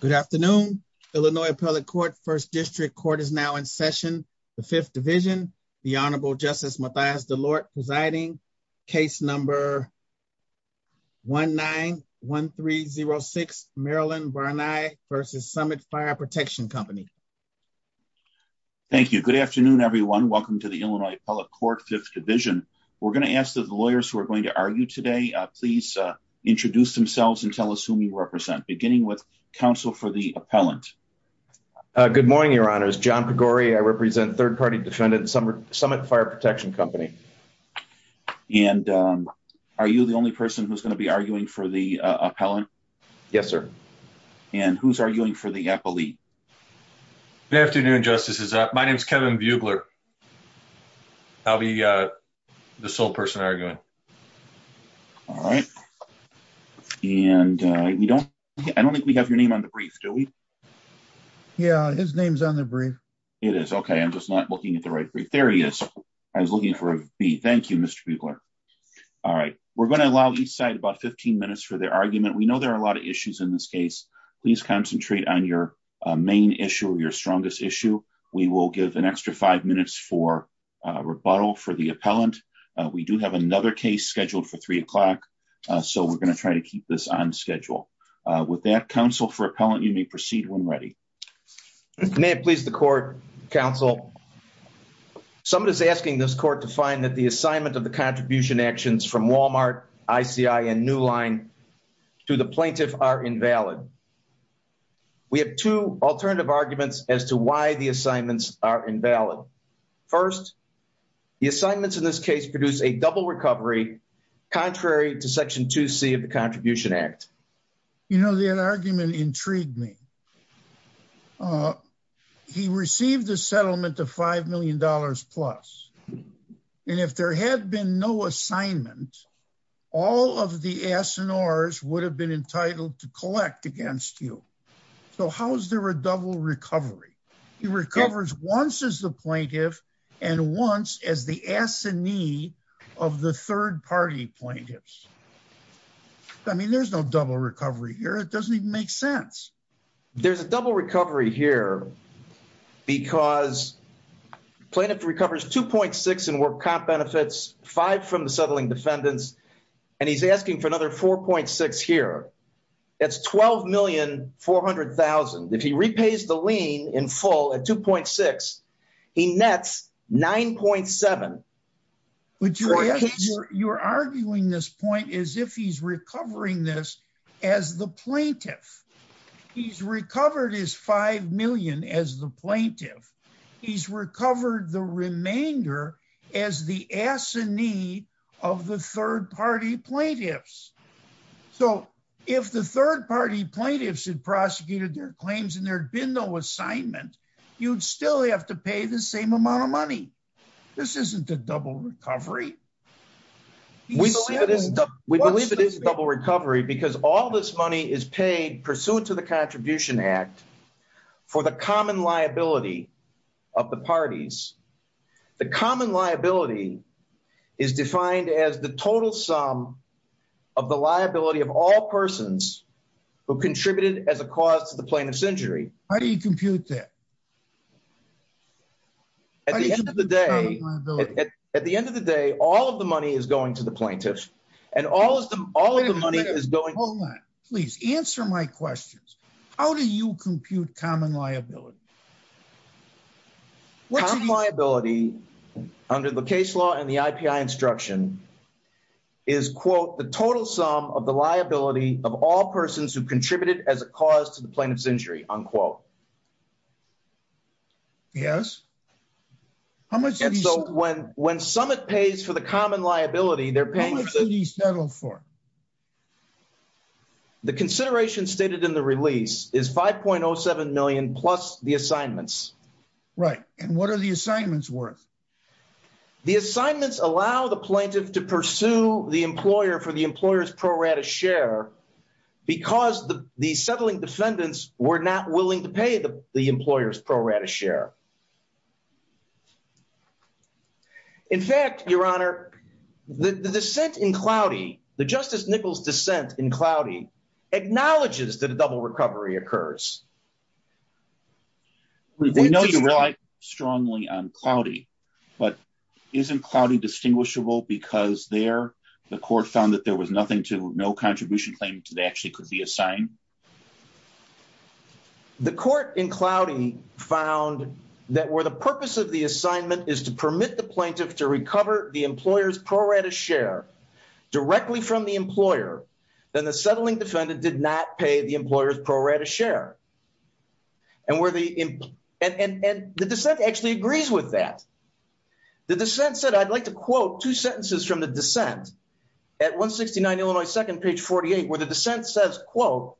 Good afternoon, Illinois Appellate Court, 1st District. Court is now in session. The 5th Division, the Honorable Justice Mathias DeLort presiding. Case number 1-9-1306, Maryland-Barni versus Summit Fire Protection Company. Thank you. Good afternoon, everyone. Welcome to the Illinois Appellate Court, 5th Division. We're going to ask that the lawyers who are going to argue today please introduce themselves and tell us who you represent, beginning with counsel for the appellant. Good morning, Your Honors. John Pegore, I represent 3rd Party Defendant, Summit Fire Protection Company. And are you the only person who's going to be arguing for the appellant? Yes, sir. And who's arguing for the appellee? Good afternoon, Justices. My name is Kevin Bugler. I'll be the sole person arguing. Okay. All right. And I don't think we have your name on the brief, do we? Yeah, his name's on the brief. It is. Okay. I'm just not looking at the right brief. There he is. I was looking for a B. Thank you, Mr. Bugler. All right. We're going to allow each side about 15 minutes for their argument. We know there are a lot of issues in this case. Please concentrate on your main issue, your strongest issue. We will give an extra five minutes for rebuttal for the appellant. We do have another case scheduled for three o'clock, so we're going to try to keep this on schedule. With that, counsel for appellant, you may proceed when ready. May it please the court, counsel. Summit is asking this court to find that the assignment of the contribution actions from Walmart, ICI, and New Line to the plaintiff are invalid. We have two alternative arguments as to why the assignments are invalid. First, the assignments in this case produce a double recovery, contrary to Section 2C of the Contribution Act. You know, that argument intrigued me. He received a settlement of $5 million plus, and if there had been no assignment, all of the S&Rs would have been entitled to collect against you. So how is there a double recovery? He recovers once as the plaintiff, and once as the assignee of the third-party plaintiffs. I mean, there's no double recovery here. It doesn't even make sense. There's a double recovery here because plaintiff recovers $2.6 million in work comp benefits, five from the settling defendants, and he's asking for another $4.6 million here. That's $12,400,000. If he repays the lien in full at $2.6, he nets $9.7. You're arguing this point as if he's recovering this as the plaintiff. He's recovered his $5 million as the plaintiff. He's recovered the remainder as the assignee of the third-party plaintiffs. So if the third-party plaintiffs had prosecuted their claims and there had been no assignment, you'd still have to pay the same amount of money. This isn't a double recovery. We believe it is a double recovery because all this money is paid pursuant to the Contribution Act for the common liability of the parties. The common liability is defined as the total sum of the liability of all persons who contributed as a cause to the plaintiff's injury. How do you compute that? At the end of the day, all of the money is going to the plaintiff. Please answer my questions. How do you compute common liability? Common liability, under the case law and the IPI instruction, is, quote, the total sum of the liability of all persons who contributed as a cause to the plaintiff's injury, unquote. Yes. When Summit pays for the common liability, they're paying for it. How much did he settle for? The consideration stated in the release is $5.07 million plus the assignments. Right. And what are the assignments worth? The assignments allow the plaintiff to pursue the employer for the employer's pro rata share because the settling defendants were not willing to pay the employer's pro rata share. In fact, Your Honor, the dissent in Cloudy, the Justice Nichols dissent in Cloudy, acknowledges that a double recovery occurs. We know you rely strongly on Cloudy, but isn't Cloudy distinguishable because there, the court found that there was nothing to, no contribution claim to, that actually could be assigned? Mm-hmm. The court in Cloudy found that where the purpose of the assignment is to permit the plaintiff to recover the employer's pro rata share directly from the employer, then the settling defendant did not pay the employer's pro rata share. And where the, and the dissent actually agrees with that. The dissent said, I'd like to quote two sentences from the dissent at 169 Illinois, second page 48, where the dissent says, quote,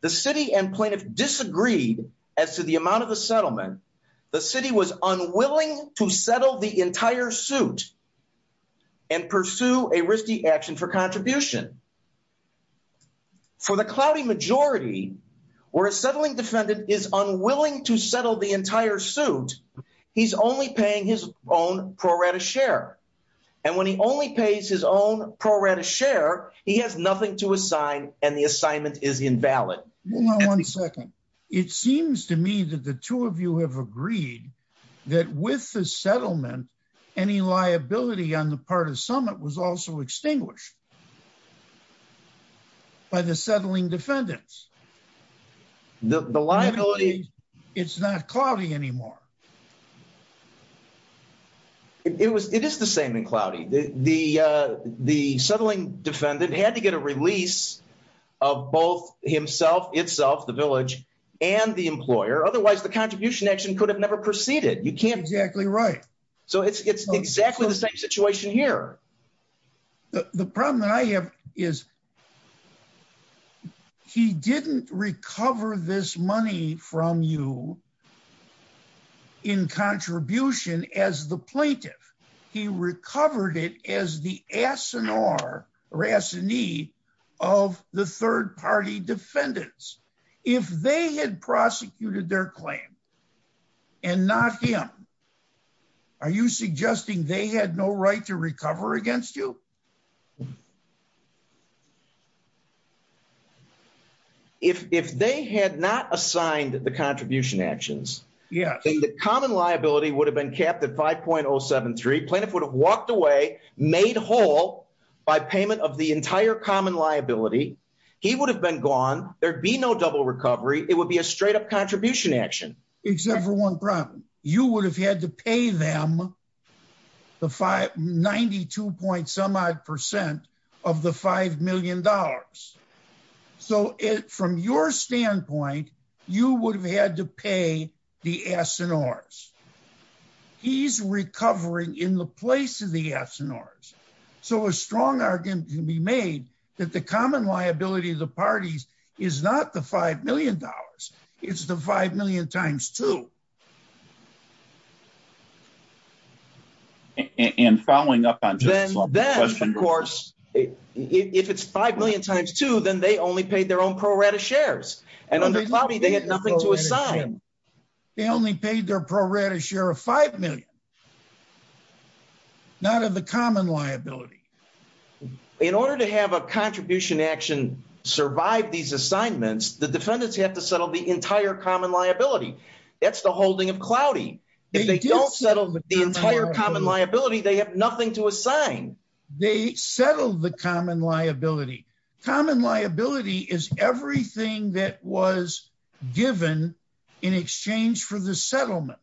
the city and plaintiff disagreed as to the amount of the settlement. The city was unwilling to settle the entire suit and pursue a risky action for contribution. For the Cloudy majority, where a settling defendant is unwilling to settle the entire suit, he's only paying his own pro rata share. And when he only pays his own pro rata share, he has nothing to assign and the assignment is invalid. Hold on one second. It seems to me that the two of you have agreed that with the settlement, any liability on the part of summit was also extinguished by the settling defendants. The liability. It's not Cloudy anymore. It was, it is the same in Cloudy. The, the, uh, the settling defendant had to get a release of both himself, itself, the village and the employer. Otherwise the contribution action could have never proceeded. You can't exactly. Right. So it's, it's exactly the same situation here. The problem that I have is he didn't recover this money from you. In contribution as the plaintiff, he recovered it as the SNR or S and E of the third party defendants. If they had prosecuted their claim and not him, are you suggesting they had no right to recover against you? Yeah. If, if they had not assigned the contribution actions, yeah, the common liability would have been capped at 5.073 plaintiff would have walked away made whole by payment of the entire common liability. He would have been gone. There'd be no double recovery. It would be a straight up contribution action. Except for one problem. You would have had to pay them the five 92 point some odd percent of the $5 million. So from your standpoint, you would have had to pay the SNRs. He's recovering in the place of the SNRs. So a strong argument can be made that the two and following up on, of course, if it's 5 million times two, then they only paid their own pro rata shares and under Bobby, they had nothing to assign. They only paid their pro rata share of 5 million, not of the common liability. In order to have a contribution that's the holding of cloudy. If they don't settle the entire common liability, they have nothing to assign. They settled the common liability. Common liability is everything that was given in exchange for the settlement.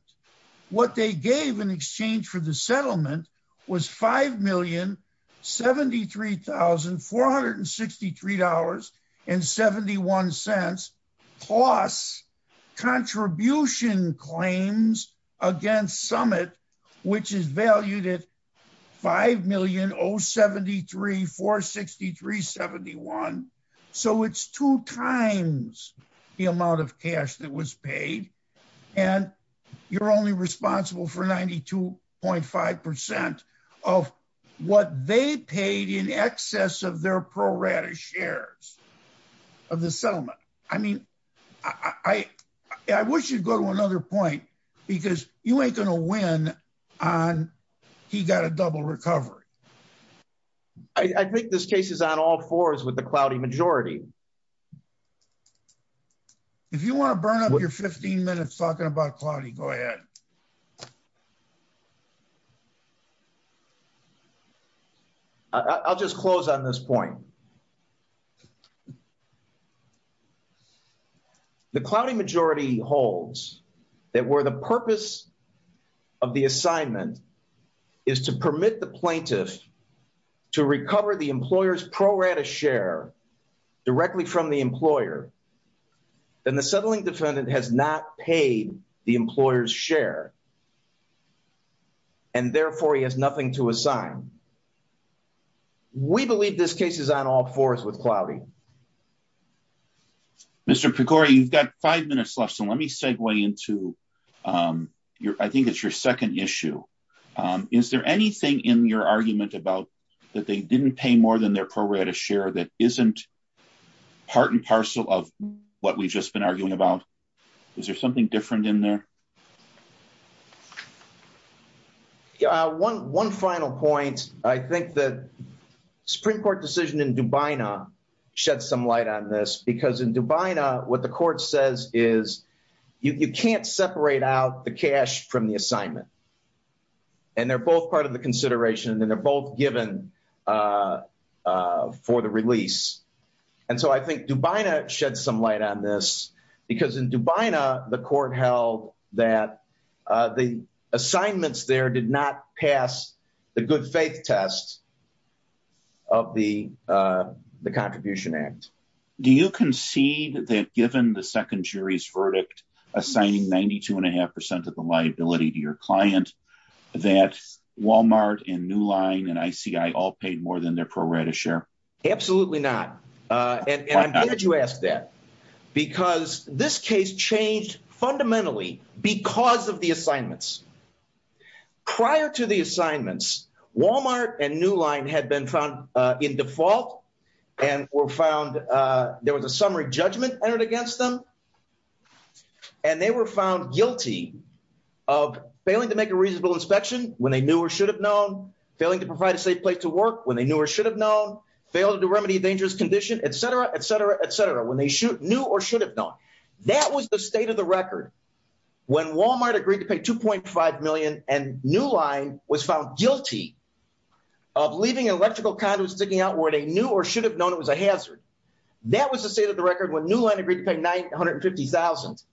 What they gave in exchange for the settlement was $5,073,463.71 plus contribution claims against Summit, which is valued at $5,073,463.71. So it's two times the amount of cash that was paid. And you're only responsible for 92.5% of what they paid in excess of their pro rata shares of the settlement. I mean, I wish you'd go to another point because you ain't going to win on he got a double recovery. I think this case is on all fours with the cloudy majority. If you want to burn up your 15 minutes, talking about cloudy, go ahead. I'll just close on this point. The cloudy majority holds that were the purpose of the assignment is to permit the plaintiff to recover the employer's pro rata share directly from the employer, then the settling defendant has not paid the employer's share. And therefore he has nothing to assign. We believe this case is on all fours with cloudy. Mr. Pecora, you've got five minutes left. So let me segue into your I think it's your second issue. Is there anything in your argument about that they didn't pay more than their pro rata share that isn't part and parcel of what we've just been arguing about? Is there something different in there? Yeah, one final point. I think that Supreme Court decision in Dubai now shed some light on this because in Dubai now what the court says is you can't separate out the cash from the assignment. And they're both part of the consideration and they're both given for the release. And so I think Dubai now shed some light on this because in Dubai now the court held that the assignments there did not pass the good faith test of the Contribution Act. Do you concede that given the that Walmart and New Line and ICI all paid more than their pro rata share? Absolutely not. And I'm glad you asked that because this case changed fundamentally because of the assignments. Prior to the assignments, Walmart and New Line had been found in default and were found there was a summary judgment entered against them. And they were found guilty of failing to make a reasonable inspection when they knew or should have known, failing to provide a safe place to work when they knew or should have known, failing to remedy a dangerous condition, et cetera, et cetera, et cetera, when they knew or should have known. That was the state of the record when Walmart agreed to pay $2.5 million and New Line was found guilty of leaving an electrical conduit sticking out where they knew or should have known it was a hazard. That was the state of the record when New Line agreed to pay $950,000.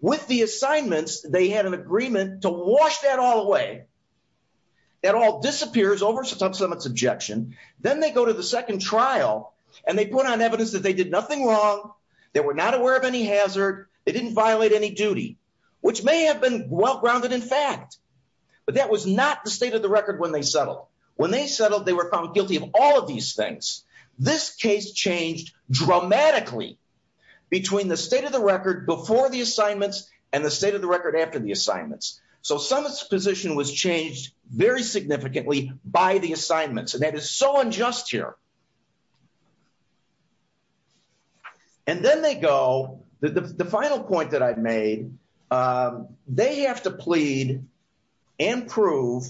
With the assignments, they had an agreement to wash that all away. That all disappears over subsummit's objection. Then they go to the second trial and they put on evidence that they did nothing wrong. They were not aware of any hazard. They didn't violate any duty, which may have been well grounded in fact. But that was not the state of the record when they settled. When they settled, they were found guilty of all of these things. This case changed dramatically between the state of the record before the assignments and the state of the record after the assignments. So summit's position was changed very significantly by the assignments and that is so unjust here. And then they go, the final point that I've made, they have to plead and prove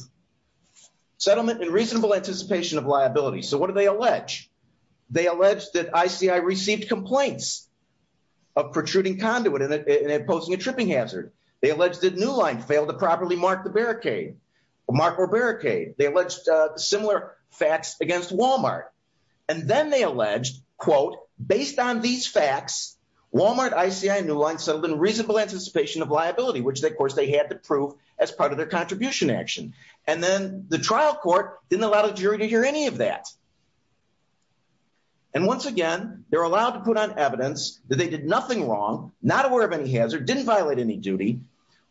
settlement and reasonable anticipation of liability. So what do they allege? They allege that ICI received complaints of protruding conduit and posing a tripping hazard. They allege that New Line failed to properly mark the barricade, mark or barricade. They alleged similar facts against Walmart. And then they alleged, quote, based on these facts, Walmart, ICI, New Line settled in reasonable anticipation of liability, which of course they had to prove as part of their contribution action. And then the trial court didn't allow the jury to hear any of that. And once again, they're allowed to put on evidence that they did nothing wrong, not aware of any hazard, didn't violate any duty.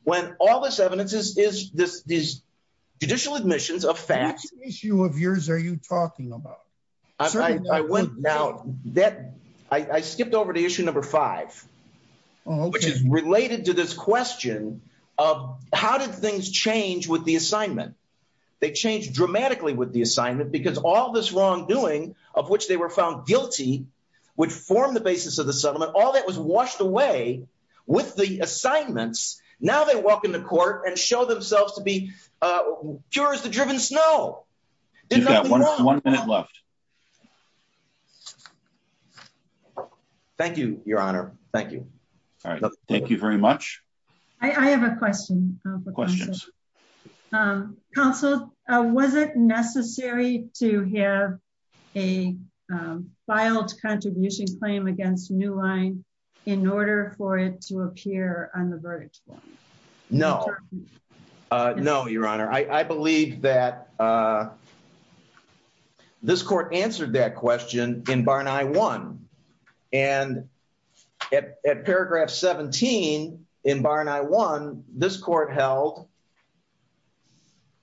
When all this evidence is judicial admissions of facts. What issue of yours are you talking about? I skipped over to issue number five, which is related to this question of how did things change with the assignment? They changed dramatically with the assignment because all this wrongdoing of which they were found guilty, which formed the basis of the settlement, all that was washed away with the assignments. Now they walk into court and show themselves to be pure as the driven snow. Thank you, Your Honor. Thank you. Thank you very much. I have a question. Questions. Counsel, was it necessary to have a filed contribution claim against New Line in order for it to appear on the verdict? No, no, Your Honor. I believe that uh, this court answered that question in Barney one and at paragraph 17 in Barney one, this court held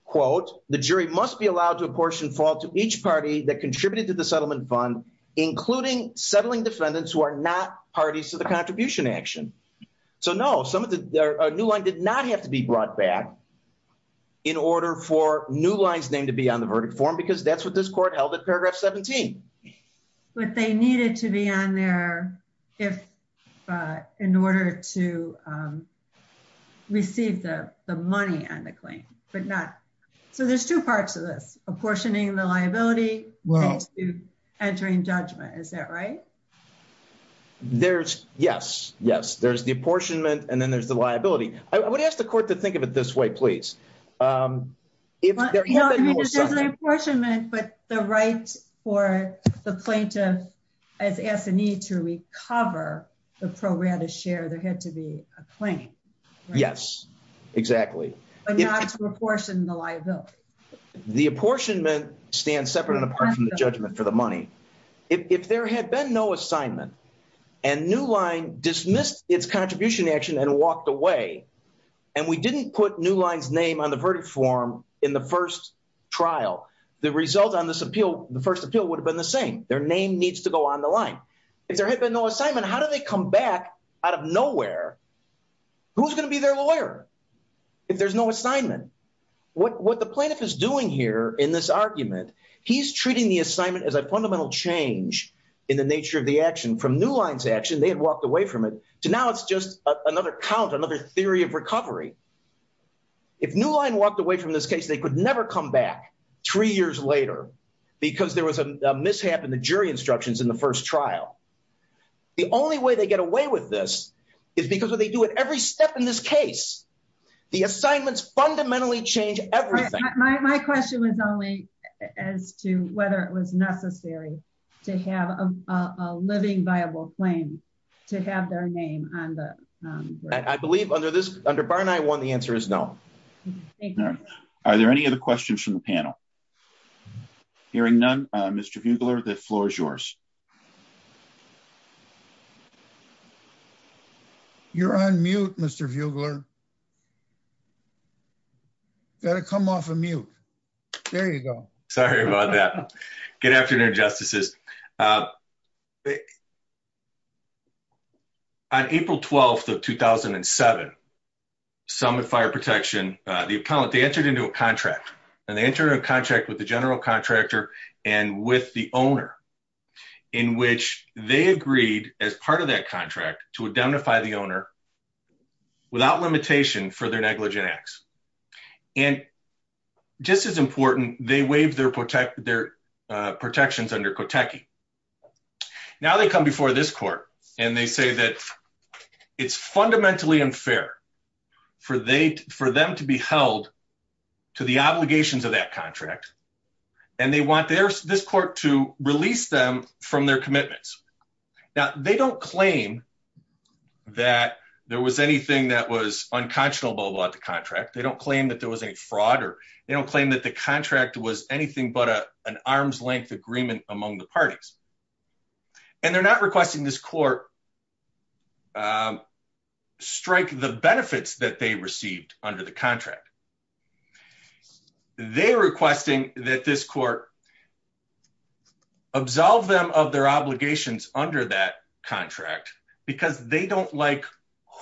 quote, the jury must be allowed to apportion fault to each party that contributed to the settlement fund, including settling defendants who are not parties to the contribution action. So no, some of the, uh, New Line did not have to be brought back in order for New Line's name to be on the verdict form because that's what this court held at paragraph 17. But they needed to be on there if, uh, in order to, um, receive the, the money on the claim, but not, so there's two parts of this apportioning the liability entering judgment. Is that right? There's yes, yes, there's the apportionment and then there's the liability. I would ask the court to think of it this way, please. Um, if there's an apportionment, but the right for the plaintiff as Anthony to recover the pro rata share, there had to be a claim. Yes, exactly. But not to apportion the liability. The apportionment stands separate and apart from the judgment for the money. If there had been no assignment and New Line dismissed its contribution action and walked away and we didn't put New Line's name on the verdict form in the first trial, the result on this appeal, the first appeal would have been the same. Their name needs to go on the line. If there had been no assignment, how do they come back out of nowhere? Who's going to be their lawyer? If there's no assignment, what the plaintiff is doing here in this argument, he's treating the assignment as a fundamental change in the nature of the action from New Line's action. They had walked away from it to now. It's just another count, another theory of recovery. If New Line walked away from this case, they could never come back three years later because there was a mishap in the jury instructions in the first trial. The only way they get away with this is because when they do it every step in this case, the assignments fundamentally change everything. My question was only as to whether it was necessary to have a living viable claim to have their name on the- I believe under this, under Barney I, the answer is no. Thank you. Are there any other questions from the panel? Hearing none, Mr. Fugler, the floor is yours. You're on mute, Mr. Fugler. Got to come off of mute. There you go. Sorry about that. Good afternoon, Justices. On April 12th of 2007, Summit Fire Protection, the accountant, they entered into a contract and they entered a contract with the general contractor and with the owner in which they agreed as part of that contract to indemnify the owner without limitation for their negligent acts. And just as important, they waived their protections under Kotechi. Now they come before this court and they say that it's fundamentally unfair for them to be held to the obligations of that contract and they want this court to release them from their commitments. Now they don't claim that there was anything that was unconscionable about the contract. They don't claim that there was any fraud or they don't claim that the contract was anything but an arm's length agreement among the parties. And they're not requesting this court to strike the benefits that they received under the contract. They're requesting that this court absolve them of their obligations under that contract because they don't like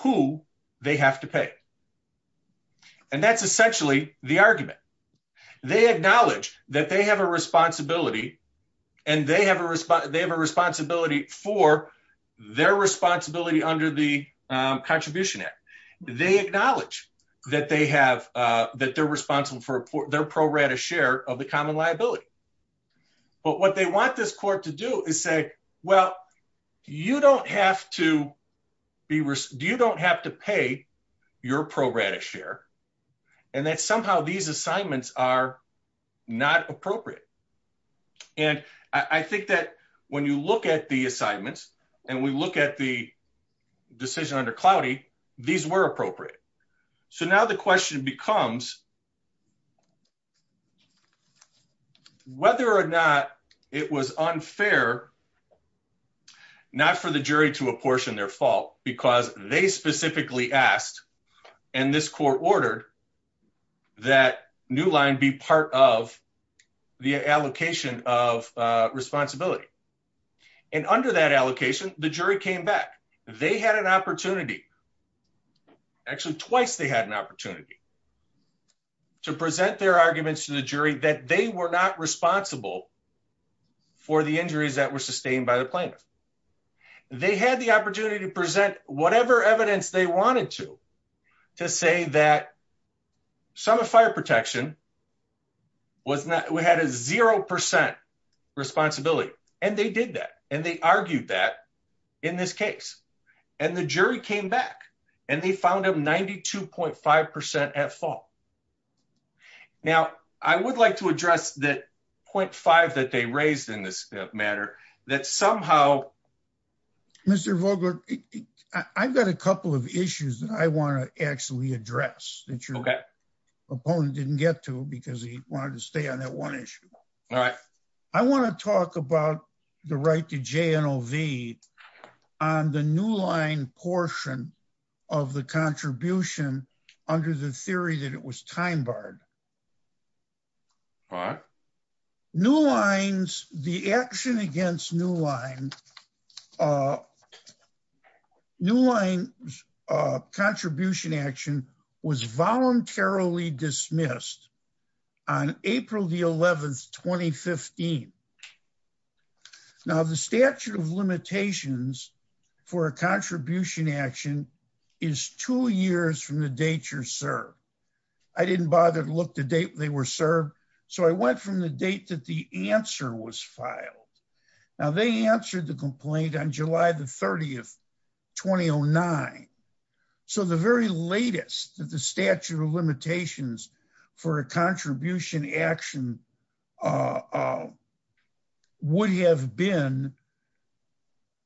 who they have to pay. And that's essentially the argument. They acknowledge that they have a responsibility and they have a responsibility for their responsibility under the Contribution Act. They acknowledge that they're responsible for their pro rata share of the common liability. But what they want this court to do is say, well, you don't have to pay your pro rata share and that somehow these assignments are not appropriate. And I think that when you look at the assignments and we look at the decision under Cloudy, these were appropriate. So now the question becomes whether or not it was unfair not for the jury to apportion their fault because they specifically asked and this court ordered that New Line be part of the allocation of responsibility. And under that allocation, the jury came back. They had an opportunity, actually twice they had an opportunity to present their arguments to the jury that they were not responsible for the injuries that were sustained by the plaintiff. They had the opportunity to evidence they wanted to, to say that some of fire protection was not, we had a 0% responsibility and they did that. And they argued that in this case and the jury came back and they found them 92.5% at fault. Now I would like to address that 0.5 that they raised in this matter, that somehow. Mr. Vogler, I've got a couple of issues that I want to actually address that your opponent didn't get to because he wanted to stay on that one issue. I want to talk about the right to JNOV on the New Line portion of the contribution under the theory that it was time barred. New Line's, the action against New Line, New Line's contribution action was voluntarily dismissed on April the 11th, 2015. Now the statute of limitations for a contribution action is two years from the date you're served. I didn't bother to look the date they were served. So I went from the date that the answer was filed. Now they answered the complaint on July the 30th, 2009. So the very latest that the would have been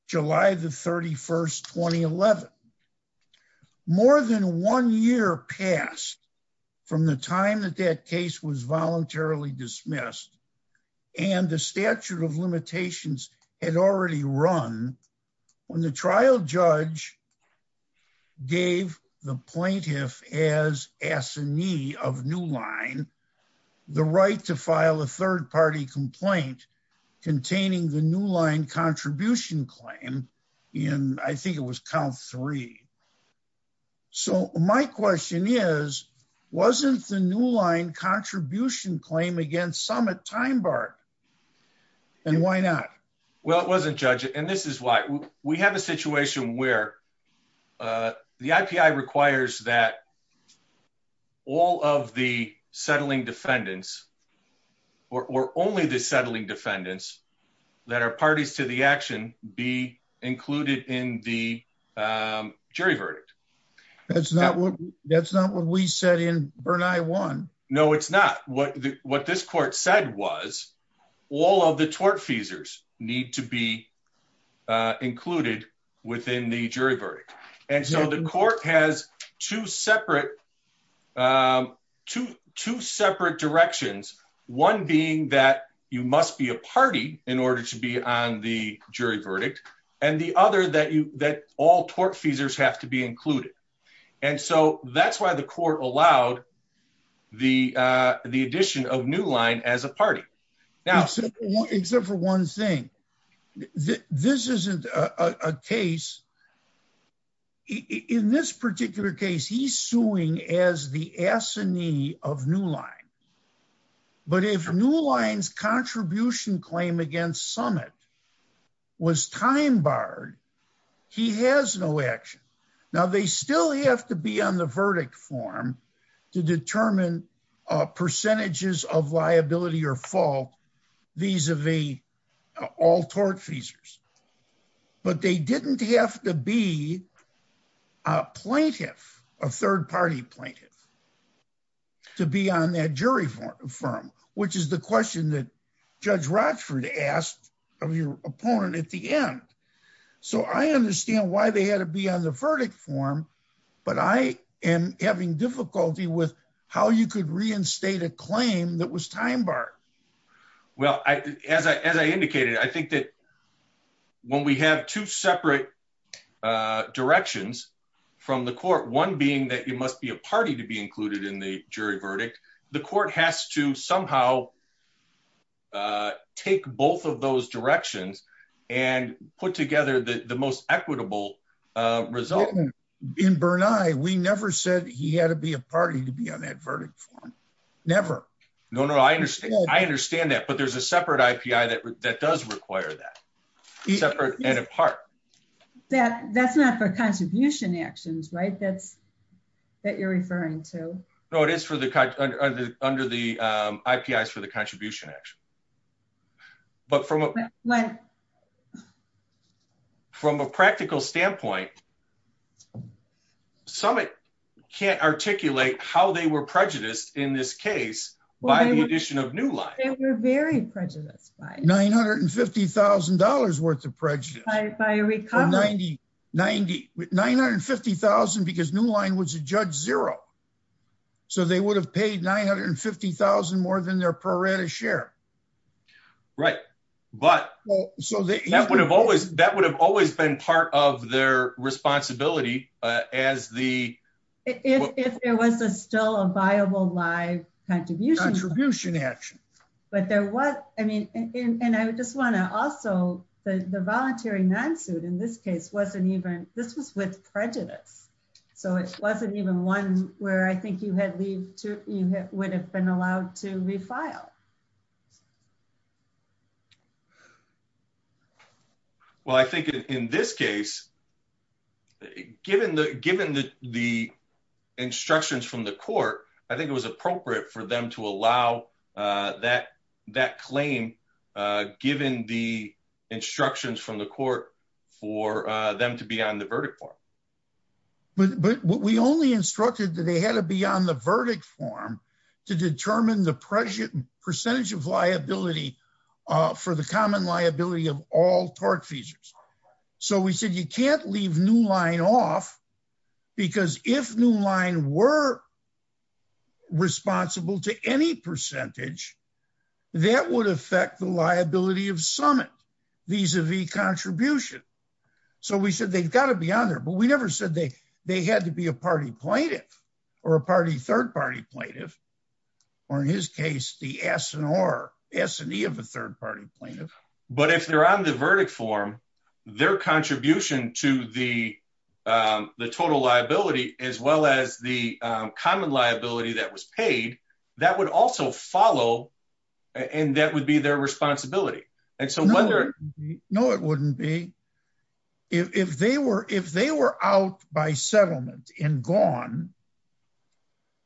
July the 31st, 2011. More than one year passed from the time that that case was voluntarily dismissed and the statute of limitations had already run when the trial judge gave the plaintiff as assignee of New Line, the right to file a third party complaint containing the New Line contribution claim in, I think it was count three. So my question is, wasn't the New Line contribution claim against summit time barred? And why not? Well, it wasn't judge. And this is why we have a situation where the IPI requires that all of the settling defendants or only the settling defendants that are parties to the action be included in the jury verdict. That's not what we said in Bernei One. No, it's not. What this court said was all of the tortfeasors need to be included within the jury verdict. And so the court has two separate directions. One being that you must be a party in order to be on the jury verdict. And the other that all tortfeasors have to be included. And so that's why the court allowed the addition of New Line as a party. Except for one thing. This isn't a case. In this particular case, he's suing as the assignee of New Line. But if New Line's contribution claim against summit was time barred, he has no action. Now they still have to be on the verdict form to determine percentages of liability or fault vis-a-vis all tortfeasors. But they didn't have to be a plaintiff, a third party plaintiff, to be on that jury firm, which is the question that I understand why they had to be on the verdict form. But I am having difficulty with how you could reinstate a claim that was time barred. Well, as I indicated, I think that when we have two separate directions from the court, one being that you must be a party to be included in the jury verdict, the court has to somehow take both of those directions and put together the most equitable result. In Bernai, we never said he had to be a party to be on that verdict form. Never. No, no, I understand that. But there's a separate IPI that does require that. Separate and apart. That's not for contribution actions, right, that you're referring to? No, it is under the IPIs for the contribution action. But from a practical standpoint, Summit can't articulate how they were prejudiced in this case by the addition of Newline. They were very prejudiced by it. $950,000 worth of prejudice. By a recovery. $950,000 because Newline was a judge zero. So they would have paid $950,000 more than their pro rata share. Right. But that would have always been part of their responsibility as the... If there was still a viable live contribution action. But there was, I mean, and I just want to also, the voluntary non-suit in this case wasn't even, this was with prejudice. So it wasn't even one where I think you would have been allowed to refile. Well, I think in this case, given the instructions from the court, I think it was appropriate for to allow that claim, given the instructions from the court for them to be on the verdict form. But we only instructed that they had to be on the verdict form to determine the percentage of liability for the common liability of all torque features. So we said, you can't leave Newline off because if Newline were responsible to any percentage, that would affect the liability of summit vis-a-vis contribution. So we said, they've got to be on there, but we never said they had to be a party plaintiff or a party third party plaintiff, or in his case, the S&R, S&E of a third party plaintiff. But if they're on the verdict form, their contribution to the total liability, as well as the common liability that was paid, that would also follow and that would be their responsibility. No, it wouldn't be. If they were out by settlement and on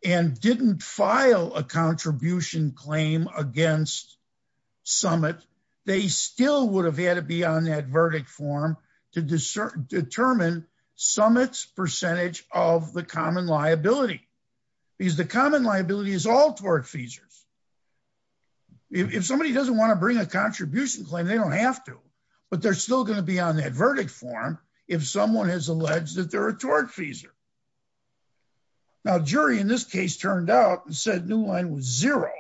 and didn't file a contribution claim against summit, they still would have had to be on that verdict form to determine summit's percentage of the common liability, because the common liability is all torque features. If somebody doesn't want to bring a contribution claim, they don't have to, but they're still going to be on that verdict form. If someone has alleged that they're a torque feeser. Now jury in this case turned out and said, Newline was zero.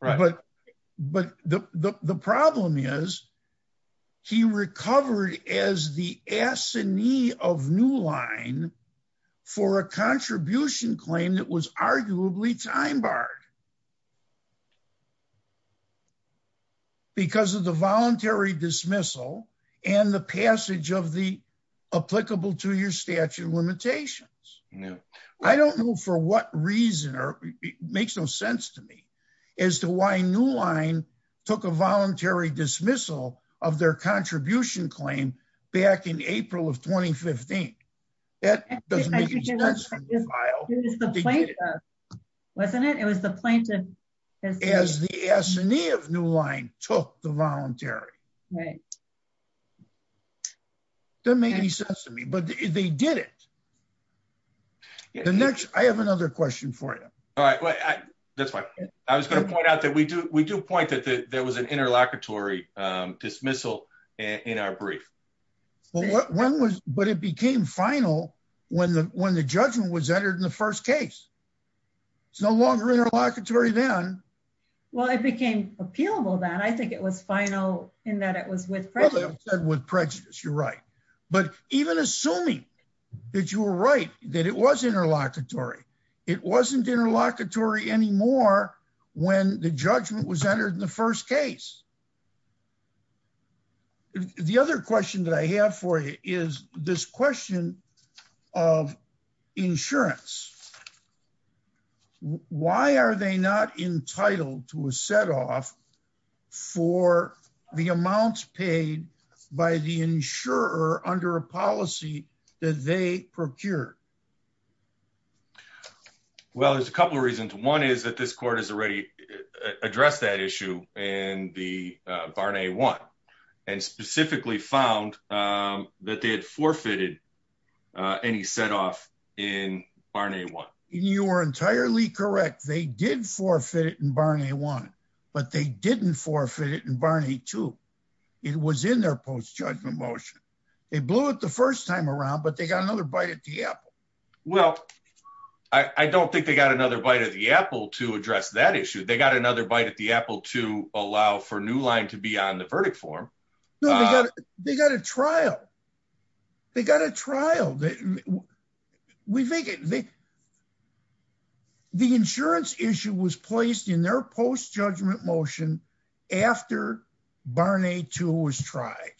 But the problem is he recovered as the S&E of Newline for a contribution claim that was arguably time-barred because of the voluntary dismissal and the passage of the applicable two-year statute of limitations. I don't know for what reason or it makes no sense to me as to why Newline took a voluntary dismissal of their contribution claim back in April of 2015. That doesn't make any sense. It was the plaintiff, wasn't it? It was the plaintiff. As the S&E of Newline took the voluntary. Right. Doesn't make any sense to me, but they did it. The next, I have another question for you. All right. That's fine. I was going to point out that we do point that there was an interlocutory dismissal in our brief. Well, when was, but it became final when the judgment was entered in the first case. It's no longer interlocutory then. Well, it became appealable then. I think it was final in that it was with prejudice. With prejudice. You're right. But even assuming that you were right, that it was interlocutory. It wasn't interlocutory anymore when the judgment was made. The next question that I have for you is this question of insurance. Why are they not entitled to a set off for the amounts paid by the insurer under a policy that they procured? Well, there's a couple of reasons. One is that this court has already addressed that issue in the Barnet 1 and specifically found that they had forfeited any set off in Barnet 1. You are entirely correct. They did forfeit it in Barnet 1, but they didn't forfeit it in Barnet 2. It was in their post-judgment motion. They blew it the first time around, but they got another bite at the apple. Well, I don't think they got another apple to address that issue. They got another bite at the apple to allow for New Line to be on the verdict form. No, they got a trial. They got a trial. The insurance issue was placed in their post-judgment motion after Barnet 2 was tried.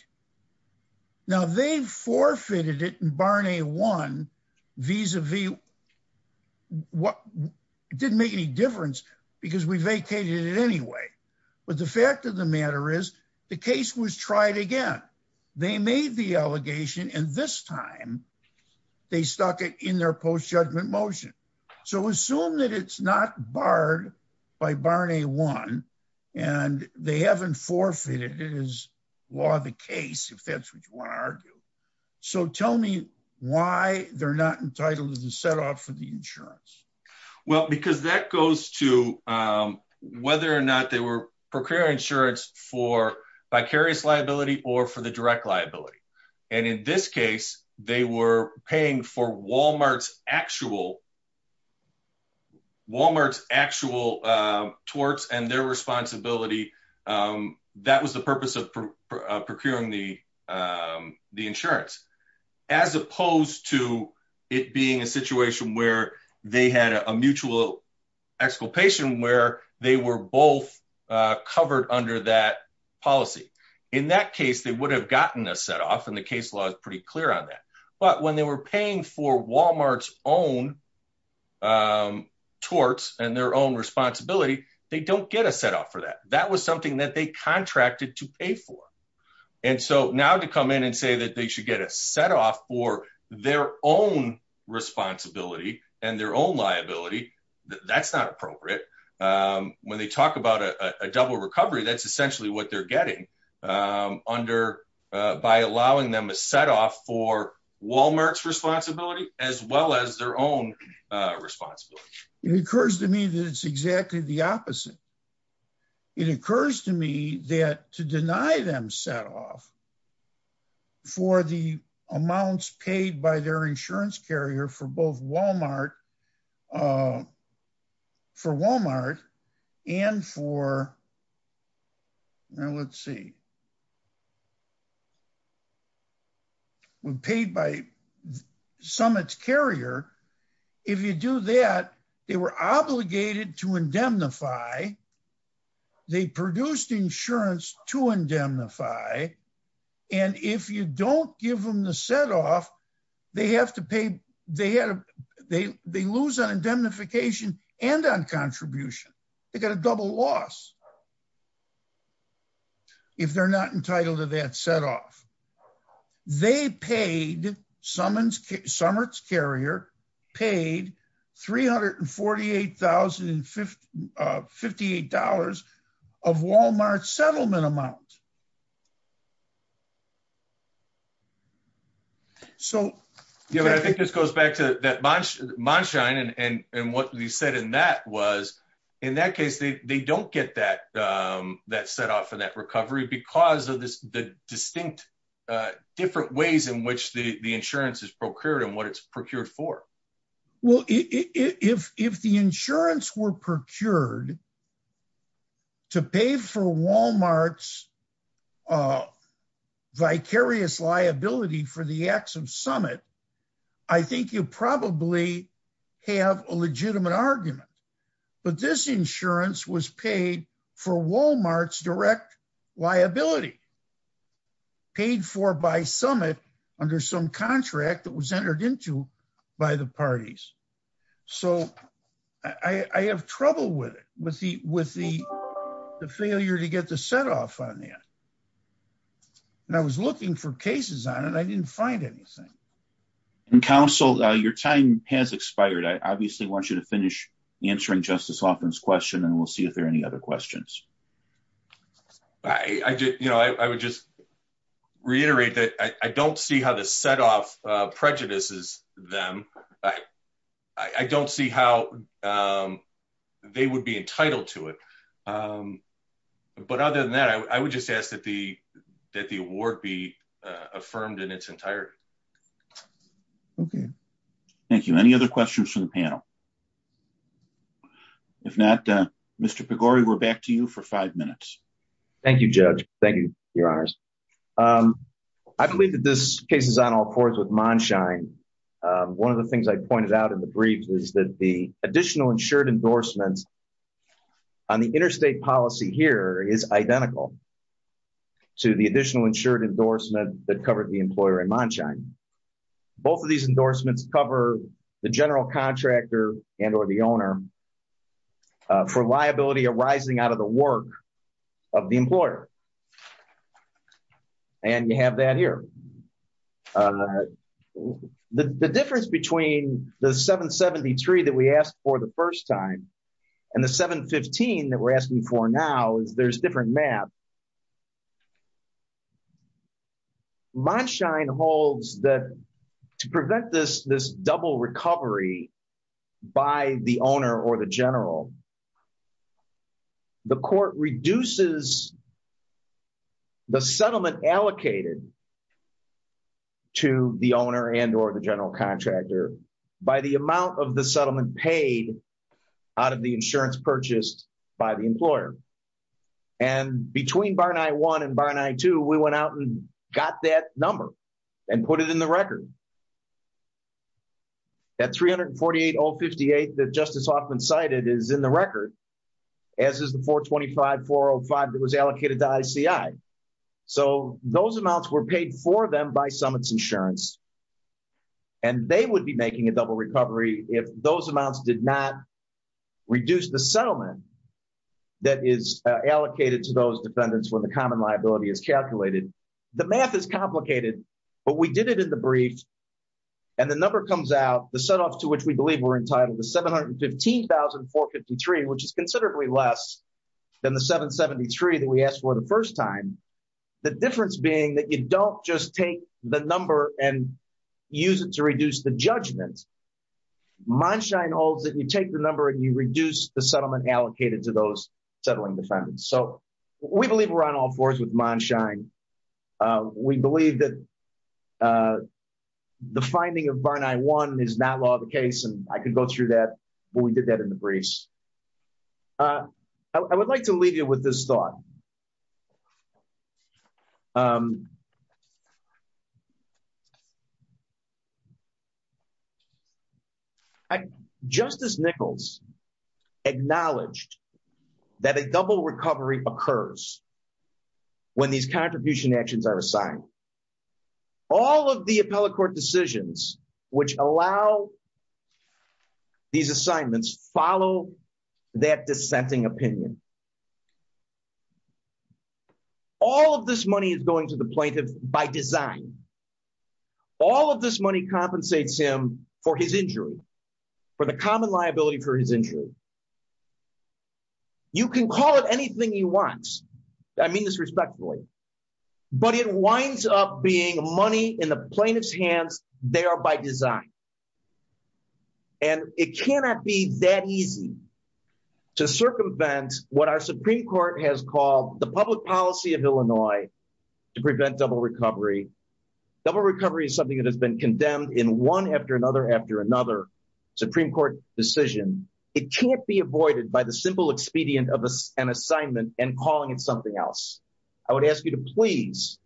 Now, they forfeited it in Barnet 1 vis-a-vis Barnet 2. It didn't make any difference because we vacated it anyway. But the fact of the matter is the case was tried again. They made the allegation and this time they stuck it in their post-judgment motion. So, assume that it's not barred by Barnet 1 and they haven't forfeited it as law of the case, if that's what you want to argue. So, tell me why they're not entitled to the set off for insurance. Well, because that goes to whether or not they were procuring insurance for vicarious liability or for the direct liability. And in this case, they were paying for Walmart's actual torts and their responsibility. That was the purpose of procuring the insurance, as opposed to it being a situation where they had a mutual exculpation where they were both covered under that policy. In that case, they would have gotten a set off and the case law is pretty clear on that. But when they were paying for Walmart's own torts and their own responsibility, they don't get a set off for that. That was something that they contracted to pay for. And so, now to come in and say that they should get a set off for their own responsibility and their own liability, that's not appropriate. When they talk about a double recovery, that's essentially what they're getting by allowing them a set off for Walmart's responsibility, as well as their own responsibility. It occurs to me that it's exactly the opposite. It occurs to me that to deny them set off for the amounts paid by their insurance carrier for both for Walmart and for, let's see, when paid by Summit's carrier, if you do that, they were obligated to indemnify. They produced insurance to indemnify. And if you don't give them the set off, they lose on indemnification and on contribution. They got a double loss. If they're not entitled to that set off, they paid, Summit's carrier paid $348,058 of Walmart's settlement amount. So, yeah, I think this goes back to that Monshine and what he said in that was, in that case, they don't get that set off for that recovery because of the distinct different ways in which the insurance is procured and what it's procured for. Well, if the insurance were procured to pay for Walmart's vicarious liability for the acts of Summit, I think you probably have a legitimate argument. But this insurance was paid for Walmart's direct liability, paid for by Summit under some contract that was entered into by the parties. So I have trouble with it, with the failure to get the set off on that. And I was looking for cases on it. I didn't find anything. And counsel, your time has expired. I obviously want you to finish answering Justice Hoffman's question and we'll see if there are any other questions. I would just reiterate that I don't see how the set off prejudices them. I don't see how they would be entitled to it. But other than that, I would just ask that the award be retired. Okay. Thank you. Any other questions from the panel? If not, Mr. Pagori, we're back to you for five minutes. Thank you, Judge. Thank you, Your Honors. I believe that this case is on all fours with Monshine. One of the things I pointed out in the brief is that the additional insured endorsements on the interstate policy here is identical to the additional insured endorsement that the employer in Monshine. Both of these endorsements cover the general contractor and or the owner for liability arising out of the work of the employer. And you have that here. The difference between the 773 that we asked for the first time and the 715 that we're asking for now is there's different map. Monshine holds that to prevent this double recovery by the owner or the general, the court reduces the settlement allocated to the owner and or the general contractor by the amount of the settlement paid out of the insurance purchased by the employer. And between Barney 1 and Barney 2, we went out and got that number and put it in the record. That 348058 that Justice Hoffman cited is in the record, as is the 425405 that was allocated to ICI. So those amounts were paid for them by Summits Insurance. And they would be making a double recovery if those amounts did not reduce the settlement that is allocated to those defendants when the common liability is calculated. The math is complicated, but we did it in the brief. And the number comes out, the set off to which we believe we're entitled to 715453, which is considerably less than the 773 that we asked for the first time. The difference being that you don't just take the number and use it to reduce the judgment. Monshine holds that you take the number and you reduce the settlement allocated to those settling defendants. So we believe we're on all fours with Monshine. We believe that the finding of Barney 1 is not law of the case, and I could go through that, but we did that in the briefs. I would like to leave you with this thought. Justice Nichols acknowledged that a double recovery occurs when these contribution actions are assigned. All of the appellate court decisions which allow these assignments follow that dissenting opinion. All of this money is going to the plaintiff by design. All of this money compensates him for his injury, for the common liability for his injury. You can call it anything you want. I mean this respectfully, but it winds up being money in the plaintiff's hands there by design. It cannot be that easy to circumvent what our Supreme Court has called the public policy of Illinois to prevent double recovery. Double recovery is something that has been condemned in one after another after another Supreme Court decision. It can't be avoided by the simple expedient of an assignment and calling it something else. I would ask you to please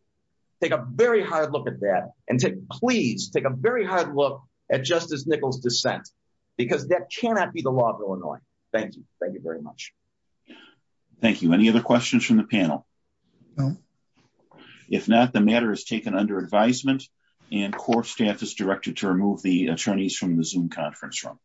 take a very hard look at that and to please take a very hard look at Justice Nichols' dissent, because that cannot be the law of Illinois. Thank you. Thank you very much. Thank you. Any other questions from the panel? If not, the matter is taken under advisement, and court staff is directed to remove the attorneys from the Zoom conference room.